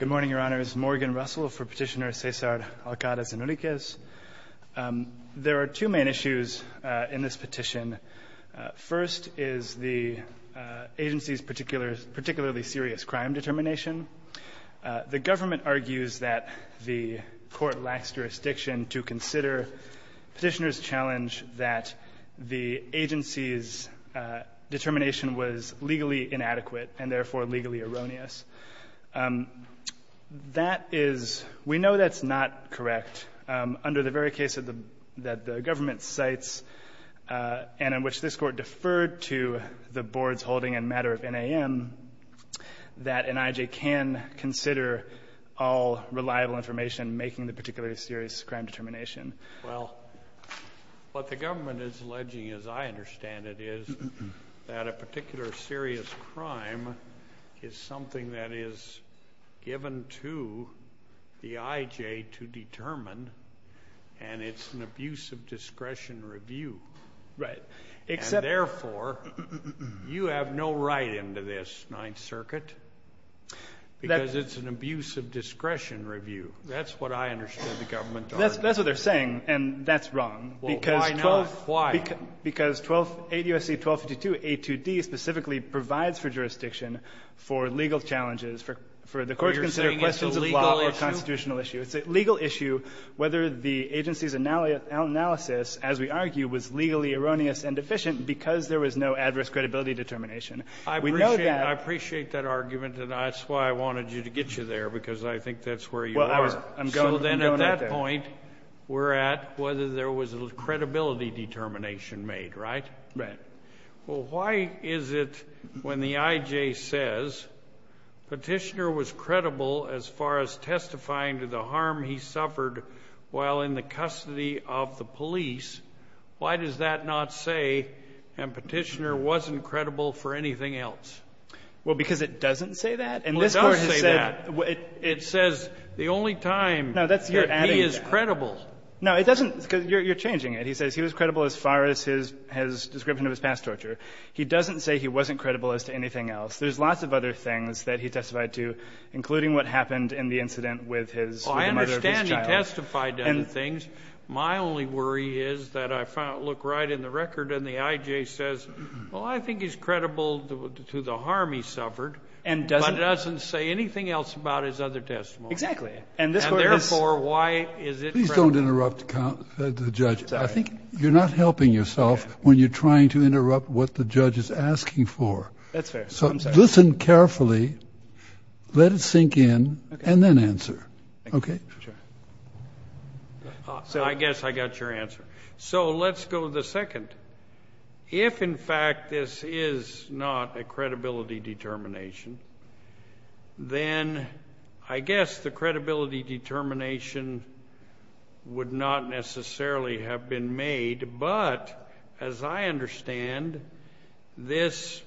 Good morning, Your Honors. Morgan Russell for Petitioner Cesar Alcaraz-Enriquez. There are two main issues in this petition. First is the agency's particularly serious crime determination. The government argues that the court lacks jurisdiction to consider petitioner's challenge that the agency's determination was legally inadequate and therefore legally erroneous. That is — we know that's not correct. Under the very case that the government cites and in which this Court deferred to the board's holding in matter of NAM, that NIJ can consider all reliable information making the particularly serious crime determination. Well, what the government is alleging, as I understand it, is that a particular serious crime is something that is given to the IJ to determine and it's an abuse of discretion review. Right. And therefore, you have no right into this Ninth Circuit because it's an abuse of discretion review. That's what they're saying, and that's wrong. Well, why not? Why? Because 12 — ADOC 1252a2d specifically provides for jurisdiction for legal challenges for the court to consider questions of law or constitutional issues. You're saying it's a legal issue? It's a legal issue whether the agency's analysis, as we argue, was legally erroneous and deficient because there was no adverse credibility determination. We know that. I appreciate that argument, and that's why I wanted you to get you there, because I think that's where you are. Well, I was — I'm going at that. So then at that point, we're at whether there was credibility determination made, right? Right. Well, why is it when the IJ says Petitioner was credible as far as testifying to the harm he suffered while in the custody of the police, why does that not say, and Petitioner wasn't credible for anything else? Well, because it doesn't say that. And this Court has said — But that's the only time that he is credible. No, it doesn't. You're changing it. He says he was credible as far as his description of his past torture. He doesn't say he wasn't credible as to anything else. There's lots of other things that he testified to, including what happened in the incident with his mother and his child. Well, I understand he testified to other things. My only worry is that I look right in the record and the IJ says, well, I think he's credible to the harm he suffered, but it doesn't say anything else about his other testimony. Exactly. And therefore, why is it credible? Please don't interrupt the judge. I think you're not helping yourself when you're trying to interrupt what the judge is asking for. That's fair. I'm sorry. So listen carefully, let it sink in, and then answer. Okay? Sure. So I guess I got your answer. So let's go to the second. If, in fact, this is not a credibility determination, then I guess the credibility determination would not necessarily have been made. But as I understand, this,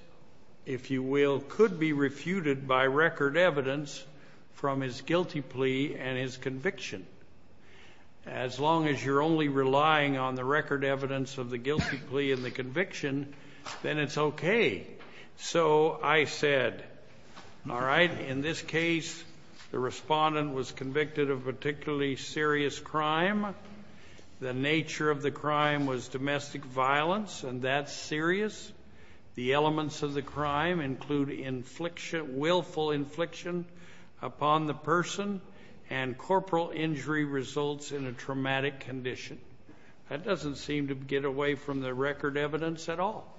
if you will, could be refuted by record evidence from his guilty plea and his conviction. As long as you're only relying on the record evidence of the guilty plea and the conviction, then it's okay. So I said, all right, in this case, the respondent was convicted of particularly serious crime. The nature of the crime was domestic violence, and that's serious. The elements of the crime include willful infliction upon the person and corporal injury results in a traumatic condition. That doesn't seem to get away from the record evidence at all.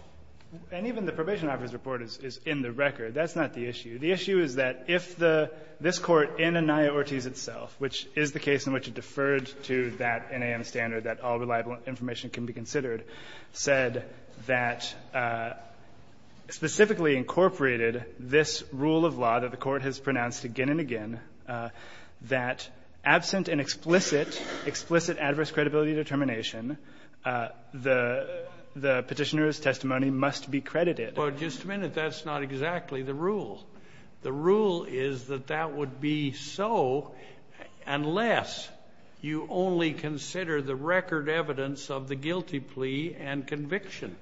And even the probation officer's report is in the record. That's not the issue. The issue is that if this Court in Anaya-Ortiz itself, which is the case in which it deferred to that NAM standard that all reliable information can be considered, said that specifically incorporated this rule of law that the Court has pronounced again and again, that absent an explicit, explicit adverse credibility determination, the Petitioner's testimony must be credited. Well, just a minute. That's not exactly the rule. The rule is that that would be so unless you only consider the record evidence of the guilty plea and conviction,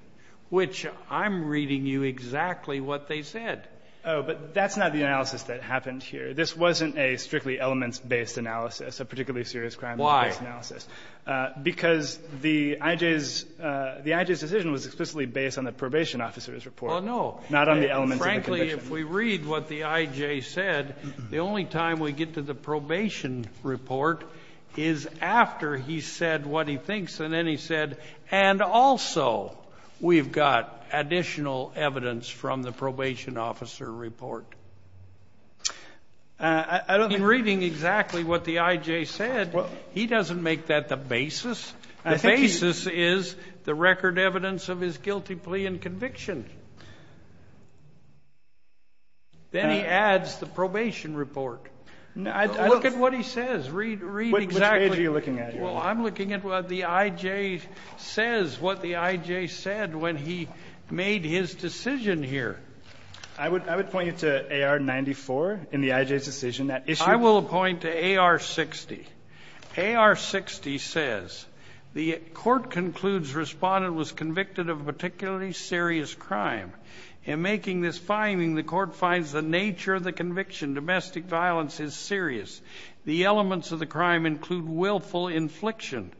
which I'm reading you exactly what they said. Oh, but that's not the analysis that happened here. This wasn't a strictly elements-based analysis, a particularly serious crimes-based analysis. Why? Because the I.J.'s decision was explicitly based on the probation officer's report, not on the elements of the conviction. Well, no. Frankly, if we read what the I.J. said, the only time we get to the probation report is after he said what he thinks, and then he said, and also we've got additional evidence from the probation officer report. In reading exactly what the I.J. said, he doesn't make that the basis. The basis is the record evidence of his guilty plea and conviction. Then he adds the probation report. Look at what he says. Read exactly. Which page are you looking at here? Well, I'm looking at what the I.J. says, what the I.J. said when he made his decision here. I would point you to A.R. 94 in the I.J.'s decision. I will point to A.R. 60. A.R. 60 says, the court concludes respondent was convicted of a particularly serious crime. In making this finding, the court finds the nature of the conviction, domestic violence, is serious. The elements of the crime include willful infliction,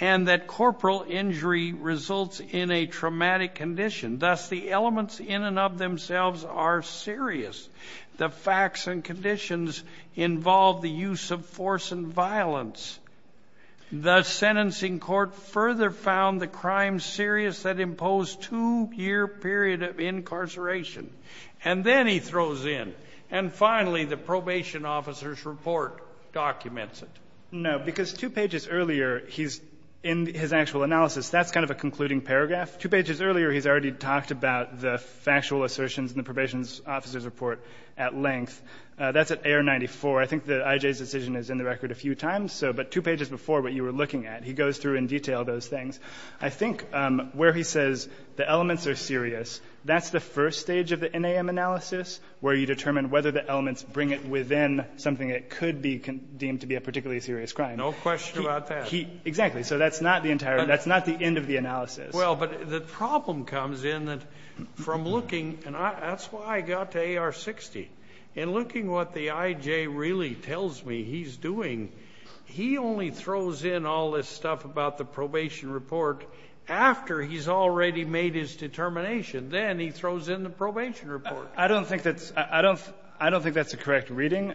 and that corporal injury results in a traumatic condition. Thus, the elements in and of themselves are serious. The facts and conditions involve the use of force and violence. The sentencing court further found the crime serious that imposed two-year period of incarceration. The court documents it. No, because two pages earlier, he's in his actual analysis. That's kind of a concluding paragraph. Two pages earlier, he's already talked about the factual assertions in the probation officer's report at length. That's at A.R. 94. I think the I.J.'s decision is in the record a few times. But two pages before, what you were looking at, he goes through in detail those things. I think where he says the elements are serious, that's the first stage of the NAM analysis where you determine whether the elements bring it within something that could be deemed to be a particularly serious crime. No question about that. Exactly. So that's not the entire. That's not the end of the analysis. Well, but the problem comes in that from looking, and that's why I got to A.R. 60. In looking what the I.J. really tells me he's doing, he only throws in all this stuff about the probation report after he's already made his determination. Then he throws in the probation report. I don't think that's a correct reading.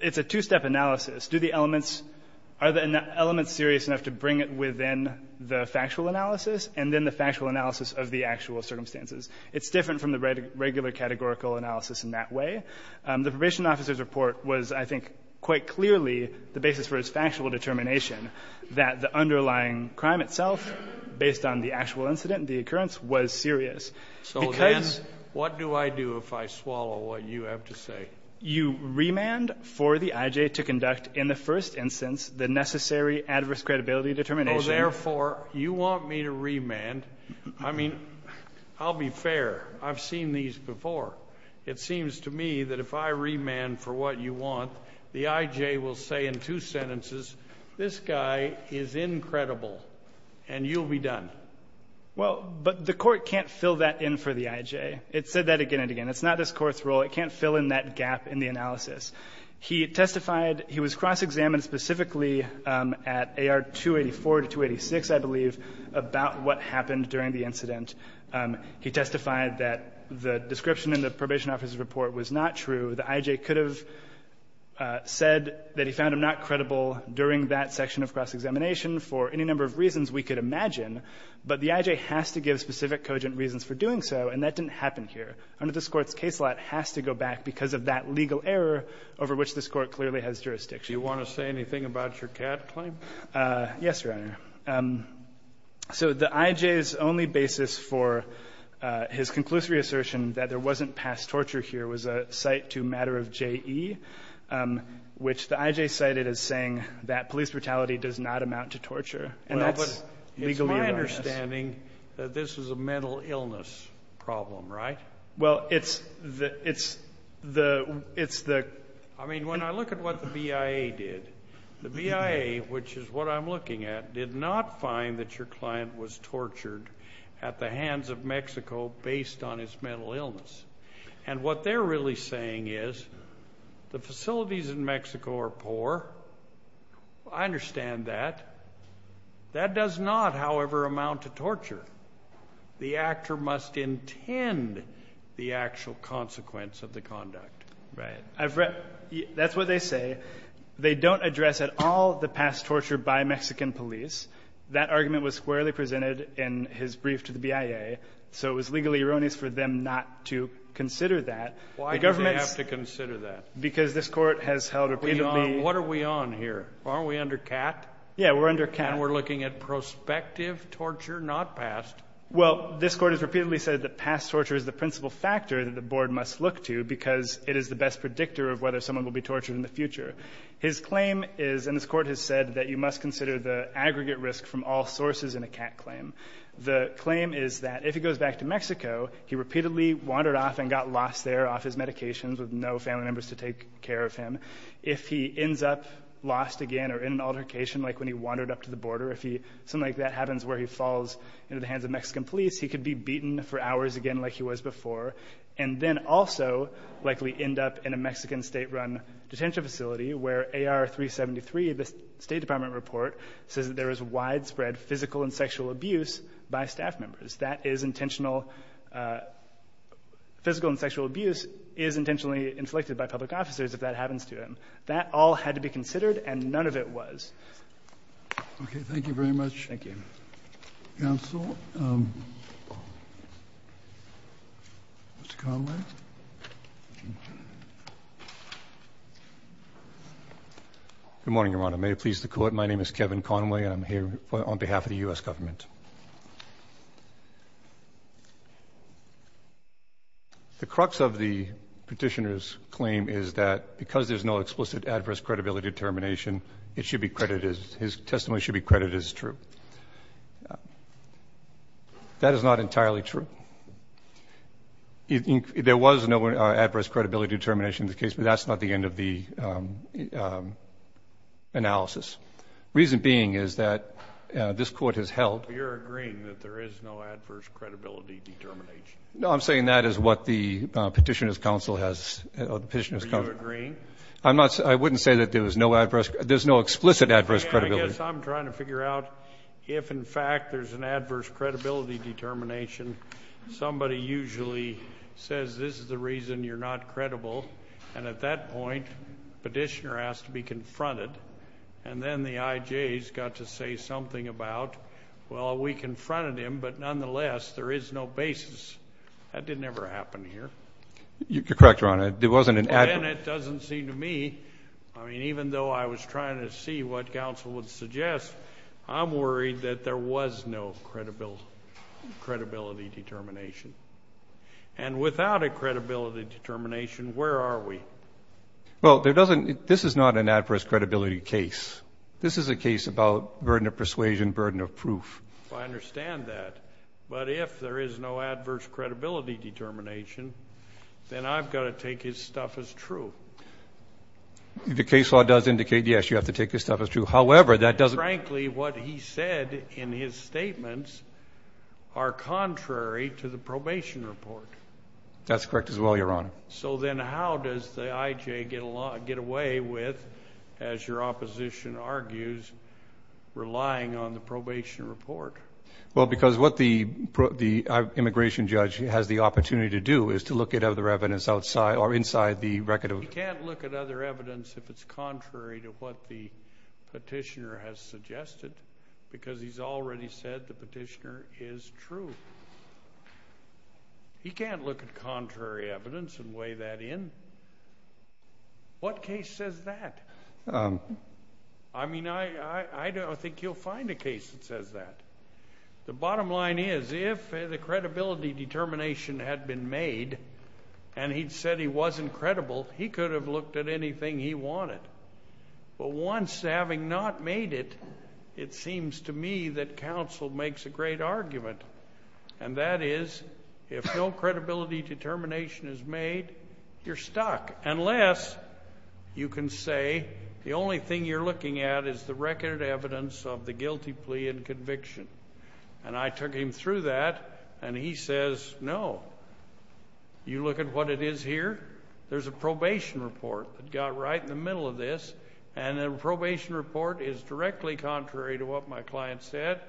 It's a two-step analysis. Do the elements – are the elements serious enough to bring it within the factual analysis, and then the factual analysis of the actual circumstances? It's different from the regular categorical analysis in that way. The probation officer's report was, I think, quite clearly the basis for his factual determination that the underlying crime itself, based on the actual incident, the occurrence, was serious. So, then, what do I do if I swallow what you have to say? You remand for the I.J. to conduct, in the first instance, the necessary adverse credibility determination. Oh, therefore, you want me to remand? I mean, I'll be fair. I've seen these before. It seems to me that if I remand for what you want, the I.J. will say in two sentences, this guy is incredible, and you'll be done. Well, but the Court can't fill that in for the I.J. It said that again and again. It's not this Court's role. It can't fill in that gap in the analysis. He testified – he was cross-examined specifically at AR 284 to 286, I believe, about what happened during the incident. He testified that the description in the probation officer's report was not true. The I.J. could have said that he found him not credible during that section of cross-examination for any number of reasons we could imagine, but the I.J. has to give specific cogent reasons for doing so, and that didn't happen here. Under this Court's case law, it has to go back because of that legal error over which this Court clearly has jurisdiction. Do you want to say anything about your CAD claim? Yes, Your Honor. So the I.J.'s only basis for his conclusive reassertion that there wasn't past torture here was a cite to a matter of J.E., which the I.J. cited as saying that police brutality does not amount to torture. Well, but it's my understanding that this is a mental illness problem, right? Well, it's the – it's the – it's the – I mean, when I look at what the BIA did, the BIA, which is what I'm looking at, did not find that your client was tortured at the hands of Mexico based on his mental illness. And what they're really saying is the facilities in Mexico are poor. I understand that. That does not, however, amount to torture. The actor must intend the actual consequence of the conduct. Right. I've read – that's what they say. They don't address at all the past torture by Mexican police. That argument was squarely presented in his brief to the BIA, so it was legally erroneous for them not to consider that. Why did they have to consider that? Because this Court has held repeatedly – What are we on here? Aren't we under CAT? Yeah, we're under CAT. And we're looking at prospective torture, not past. Well, this Court has repeatedly said that past torture is the principal factor that the Board must look to because it is the best predictor of whether someone will be tortured in the future. His claim is – and this Court has said that you must consider the aggregate risk from all sources in a CAT claim. The claim is that if he goes back to Mexico, he repeatedly wandered off and got lost there off his medications with no family members to take care of him. If he ends up lost again or in an altercation like when he wandered up to the border, if something like that happens where he falls into the hands of Mexican police, he could be beaten for hours again like he was before and then also likely end up in a Mexican state-run detention facility where AR-373, the State Department report, says that there is widespread physical and sexual abuse by staff members. That is intentional – physical and sexual abuse is intentionally inflicted by public officers if that happens to him. That all had to be considered and none of it was. Okay. Thank you very much. Thank you. Counsel. Mr. Conway. Good morning, Your Honor. May it please the Court. My name is Kevin Conway and I'm here on behalf of the U.S. government. The crux of the petitioner's claim is that because there's no explicit adverse credibility determination, it should be credited – his testimony should be credited as true. That is not entirely true. There was no adverse credibility determination in this case, but that's not the end of the analysis. The reason being is that this Court has held – You're agreeing that there is no adverse credibility determination. No, I'm saying that is what the Petitioner's Counsel has – Are you agreeing? I'm not – I wouldn't say that there was no adverse – there's no explicit adverse credibility. I guess I'm trying to figure out if, in fact, there's an adverse credibility determination. Somebody usually says this is the reason you're not credible, and at that point the petitioner has to be confronted, and then the I.J. has got to say something about, well, we confronted him, but nonetheless there is no basis. That didn't ever happen here. It wasn't an adverse – Again, it doesn't seem to me – I mean, even though I was trying to see what counsel would suggest, I'm worried that there was no credibility determination. And without a credibility determination, where are we? Well, there doesn't – this is not an adverse credibility case. This is a case about burden of persuasion, burden of proof. I understand that. But if there is no adverse credibility determination, then I've got to take his stuff as true. The case law does indicate, yes, you have to take his stuff as true. However, that doesn't – Frankly, what he said in his statements are contrary to the probation report. That's correct as well, Your Honor. So then how does the I.J. get away with, as your opposition argues, relying on the probation report? Well, because what the immigration judge has the opportunity to do is to look at other evidence outside or inside the record of – He can't look at other evidence if it's contrary to what the petitioner has suggested because he's already said the petitioner is true. He can't look at contrary evidence and weigh that in. What case says that? I mean, I don't think you'll find a case that says that. The bottom line is if the credibility determination had been made and he'd said he wasn't credible, he could have looked at anything he wanted. But once, having not made it, it seems to me that counsel makes a great argument, and that is if no credibility determination is made, you're stuck, unless you can say the only thing you're looking at is the record evidence of the guilty plea and conviction. And I took him through that, and he says no. You look at what it is here. There's a probation report that got right in the middle of this, and the probation report is directly contrary to what my client said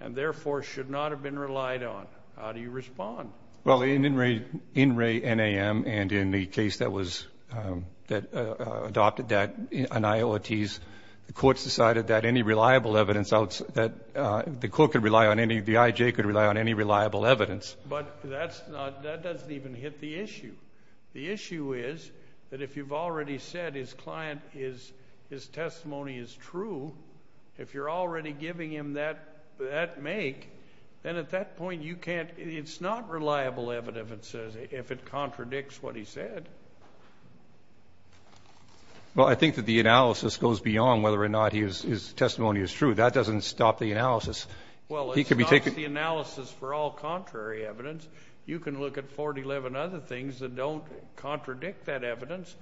and therefore should not have been relied on. How do you respond? Well, in Ray NAM and in the case that adopted that in IOTs, the courts decided that any reliable evidence that the court could rely on, the IJ could rely on any reliable evidence. But that doesn't even hit the issue. The issue is that if you've already said his client, his testimony is true, if you're already giving him that make, then at that point you can't, it's not reliable evidence if it contradicts what he said. Well, I think that the analysis goes beyond whether or not his testimony is true. That doesn't stop the analysis. Well, it stops the analysis for all contrary evidence. You can look at 411 other things that don't contradict that evidence,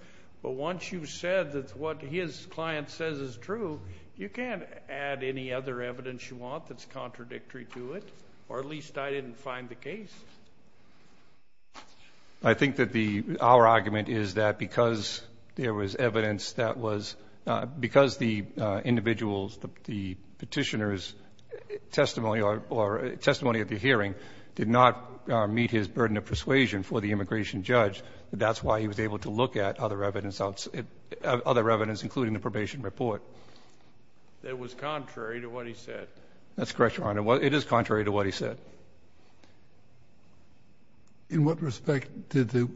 but once you've said that what his client says is true, you can't add any other evidence you want that's contradictory to it, or at least I didn't find the case. I think that our argument is that because there was evidence that was, because the individual's, the petitioner's testimony or testimony at the hearing did not meet his burden of persuasion for the immigration judge, that that's why he was able to look at other evidence including the probation report. It was contrary to what he said. That's correct, Your Honor. It is contrary to what he said. In what respect did the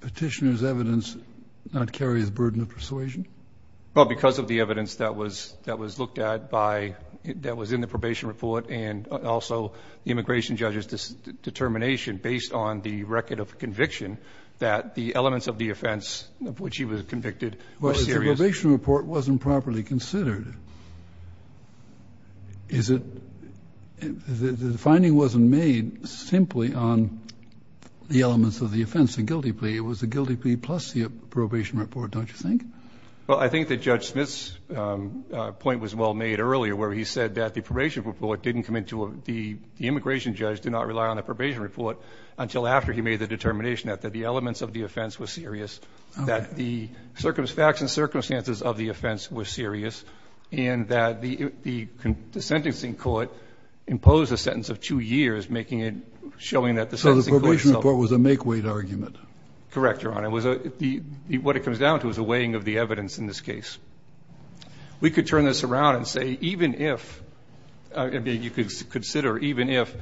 petitioner's evidence not carry his burden of persuasion? Well, because of the evidence that was looked at by, that was in the probation report and also the immigration judge's determination based on the record of conviction that the elements of the offense of which he was convicted were serious. Well, if the probation report wasn't properly considered, is it, the finding wasn't made simply on the elements of the offense, the guilty plea. It was the guilty plea plus the probation report, don't you think? Well, I think that Judge Smith's point was well made earlier where he said that the immigration judge did not rely on the probation report until after he made the determination that the elements of the offense were serious, that the facts and circumstances of the offense were serious, and that the sentencing court imposed a sentence of two years, making it, showing that the sentencing court itself. So the probation report was a make-wait argument? Correct, Your Honor. What it comes down to is a weighing of the evidence in this case. We could turn this around and say even if, I mean, you could consider even if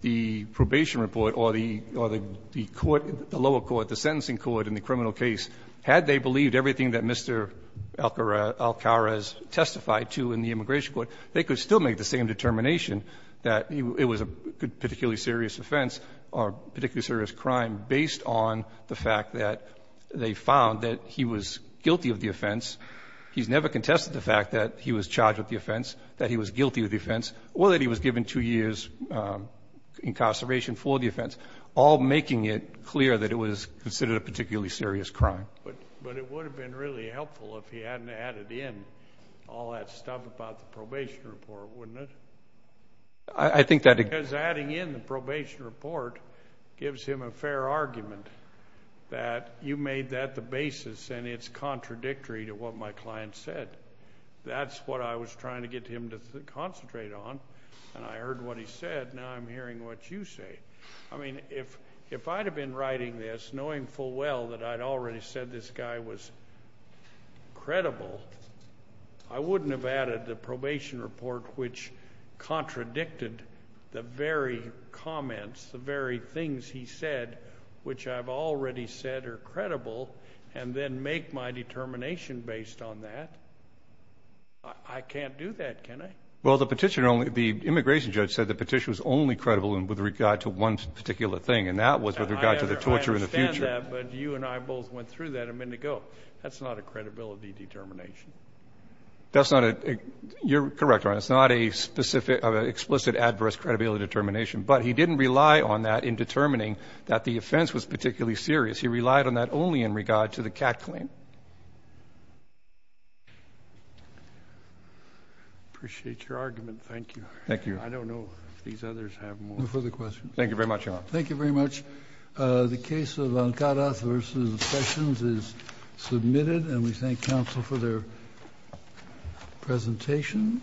the probation report or the court, the lower court, the sentencing court in the criminal case, had they believed everything that Mr. Alcarez testified to in the immigration court, they could still make the same determination that it was a particularly serious offense or a particularly serious crime based on the fact that they found that he was guilty of the offense. He's never contested the fact that he was charged with the offense, that he was guilty of the offense, or that he was given two years' incarceration for the offense, all making it clear that it was considered a particularly serious crime. But it would have been really helpful if he hadn't added in all that stuff about the probation report, wouldn't it? I think that it... Because adding in the probation report gives him a fair argument that you made that the basis and it's contradictory to what my client said. That's what I was trying to get him to concentrate on, and I heard what he said. Now I'm hearing what you say. I mean, if I'd have been writing this knowing full well that I'd already said this guy was credible, I wouldn't have added the probation report, which contradicted the very comments, the very things he said, which I've already said are credible, and then make my determination based on that. I can't do that, can I? Well, the immigration judge said the petition was only credible with regard to one particular thing, and that was with regard to the torture in the future. I understand that, but you and I both went through that a minute ago. You're correct, Your Honor. It's not a specific, explicit, adverse credibility determination, but he didn't rely on that in determining that the offense was particularly serious. He relied on that only in regard to the cat claim. I appreciate your argument. Thank you. Thank you. I don't know if these others have more. No further questions. Thank you very much, Your Honor. Thank you very much. The case of Ankarath v. Sessions is submitted, and we thank counsel for their presentation.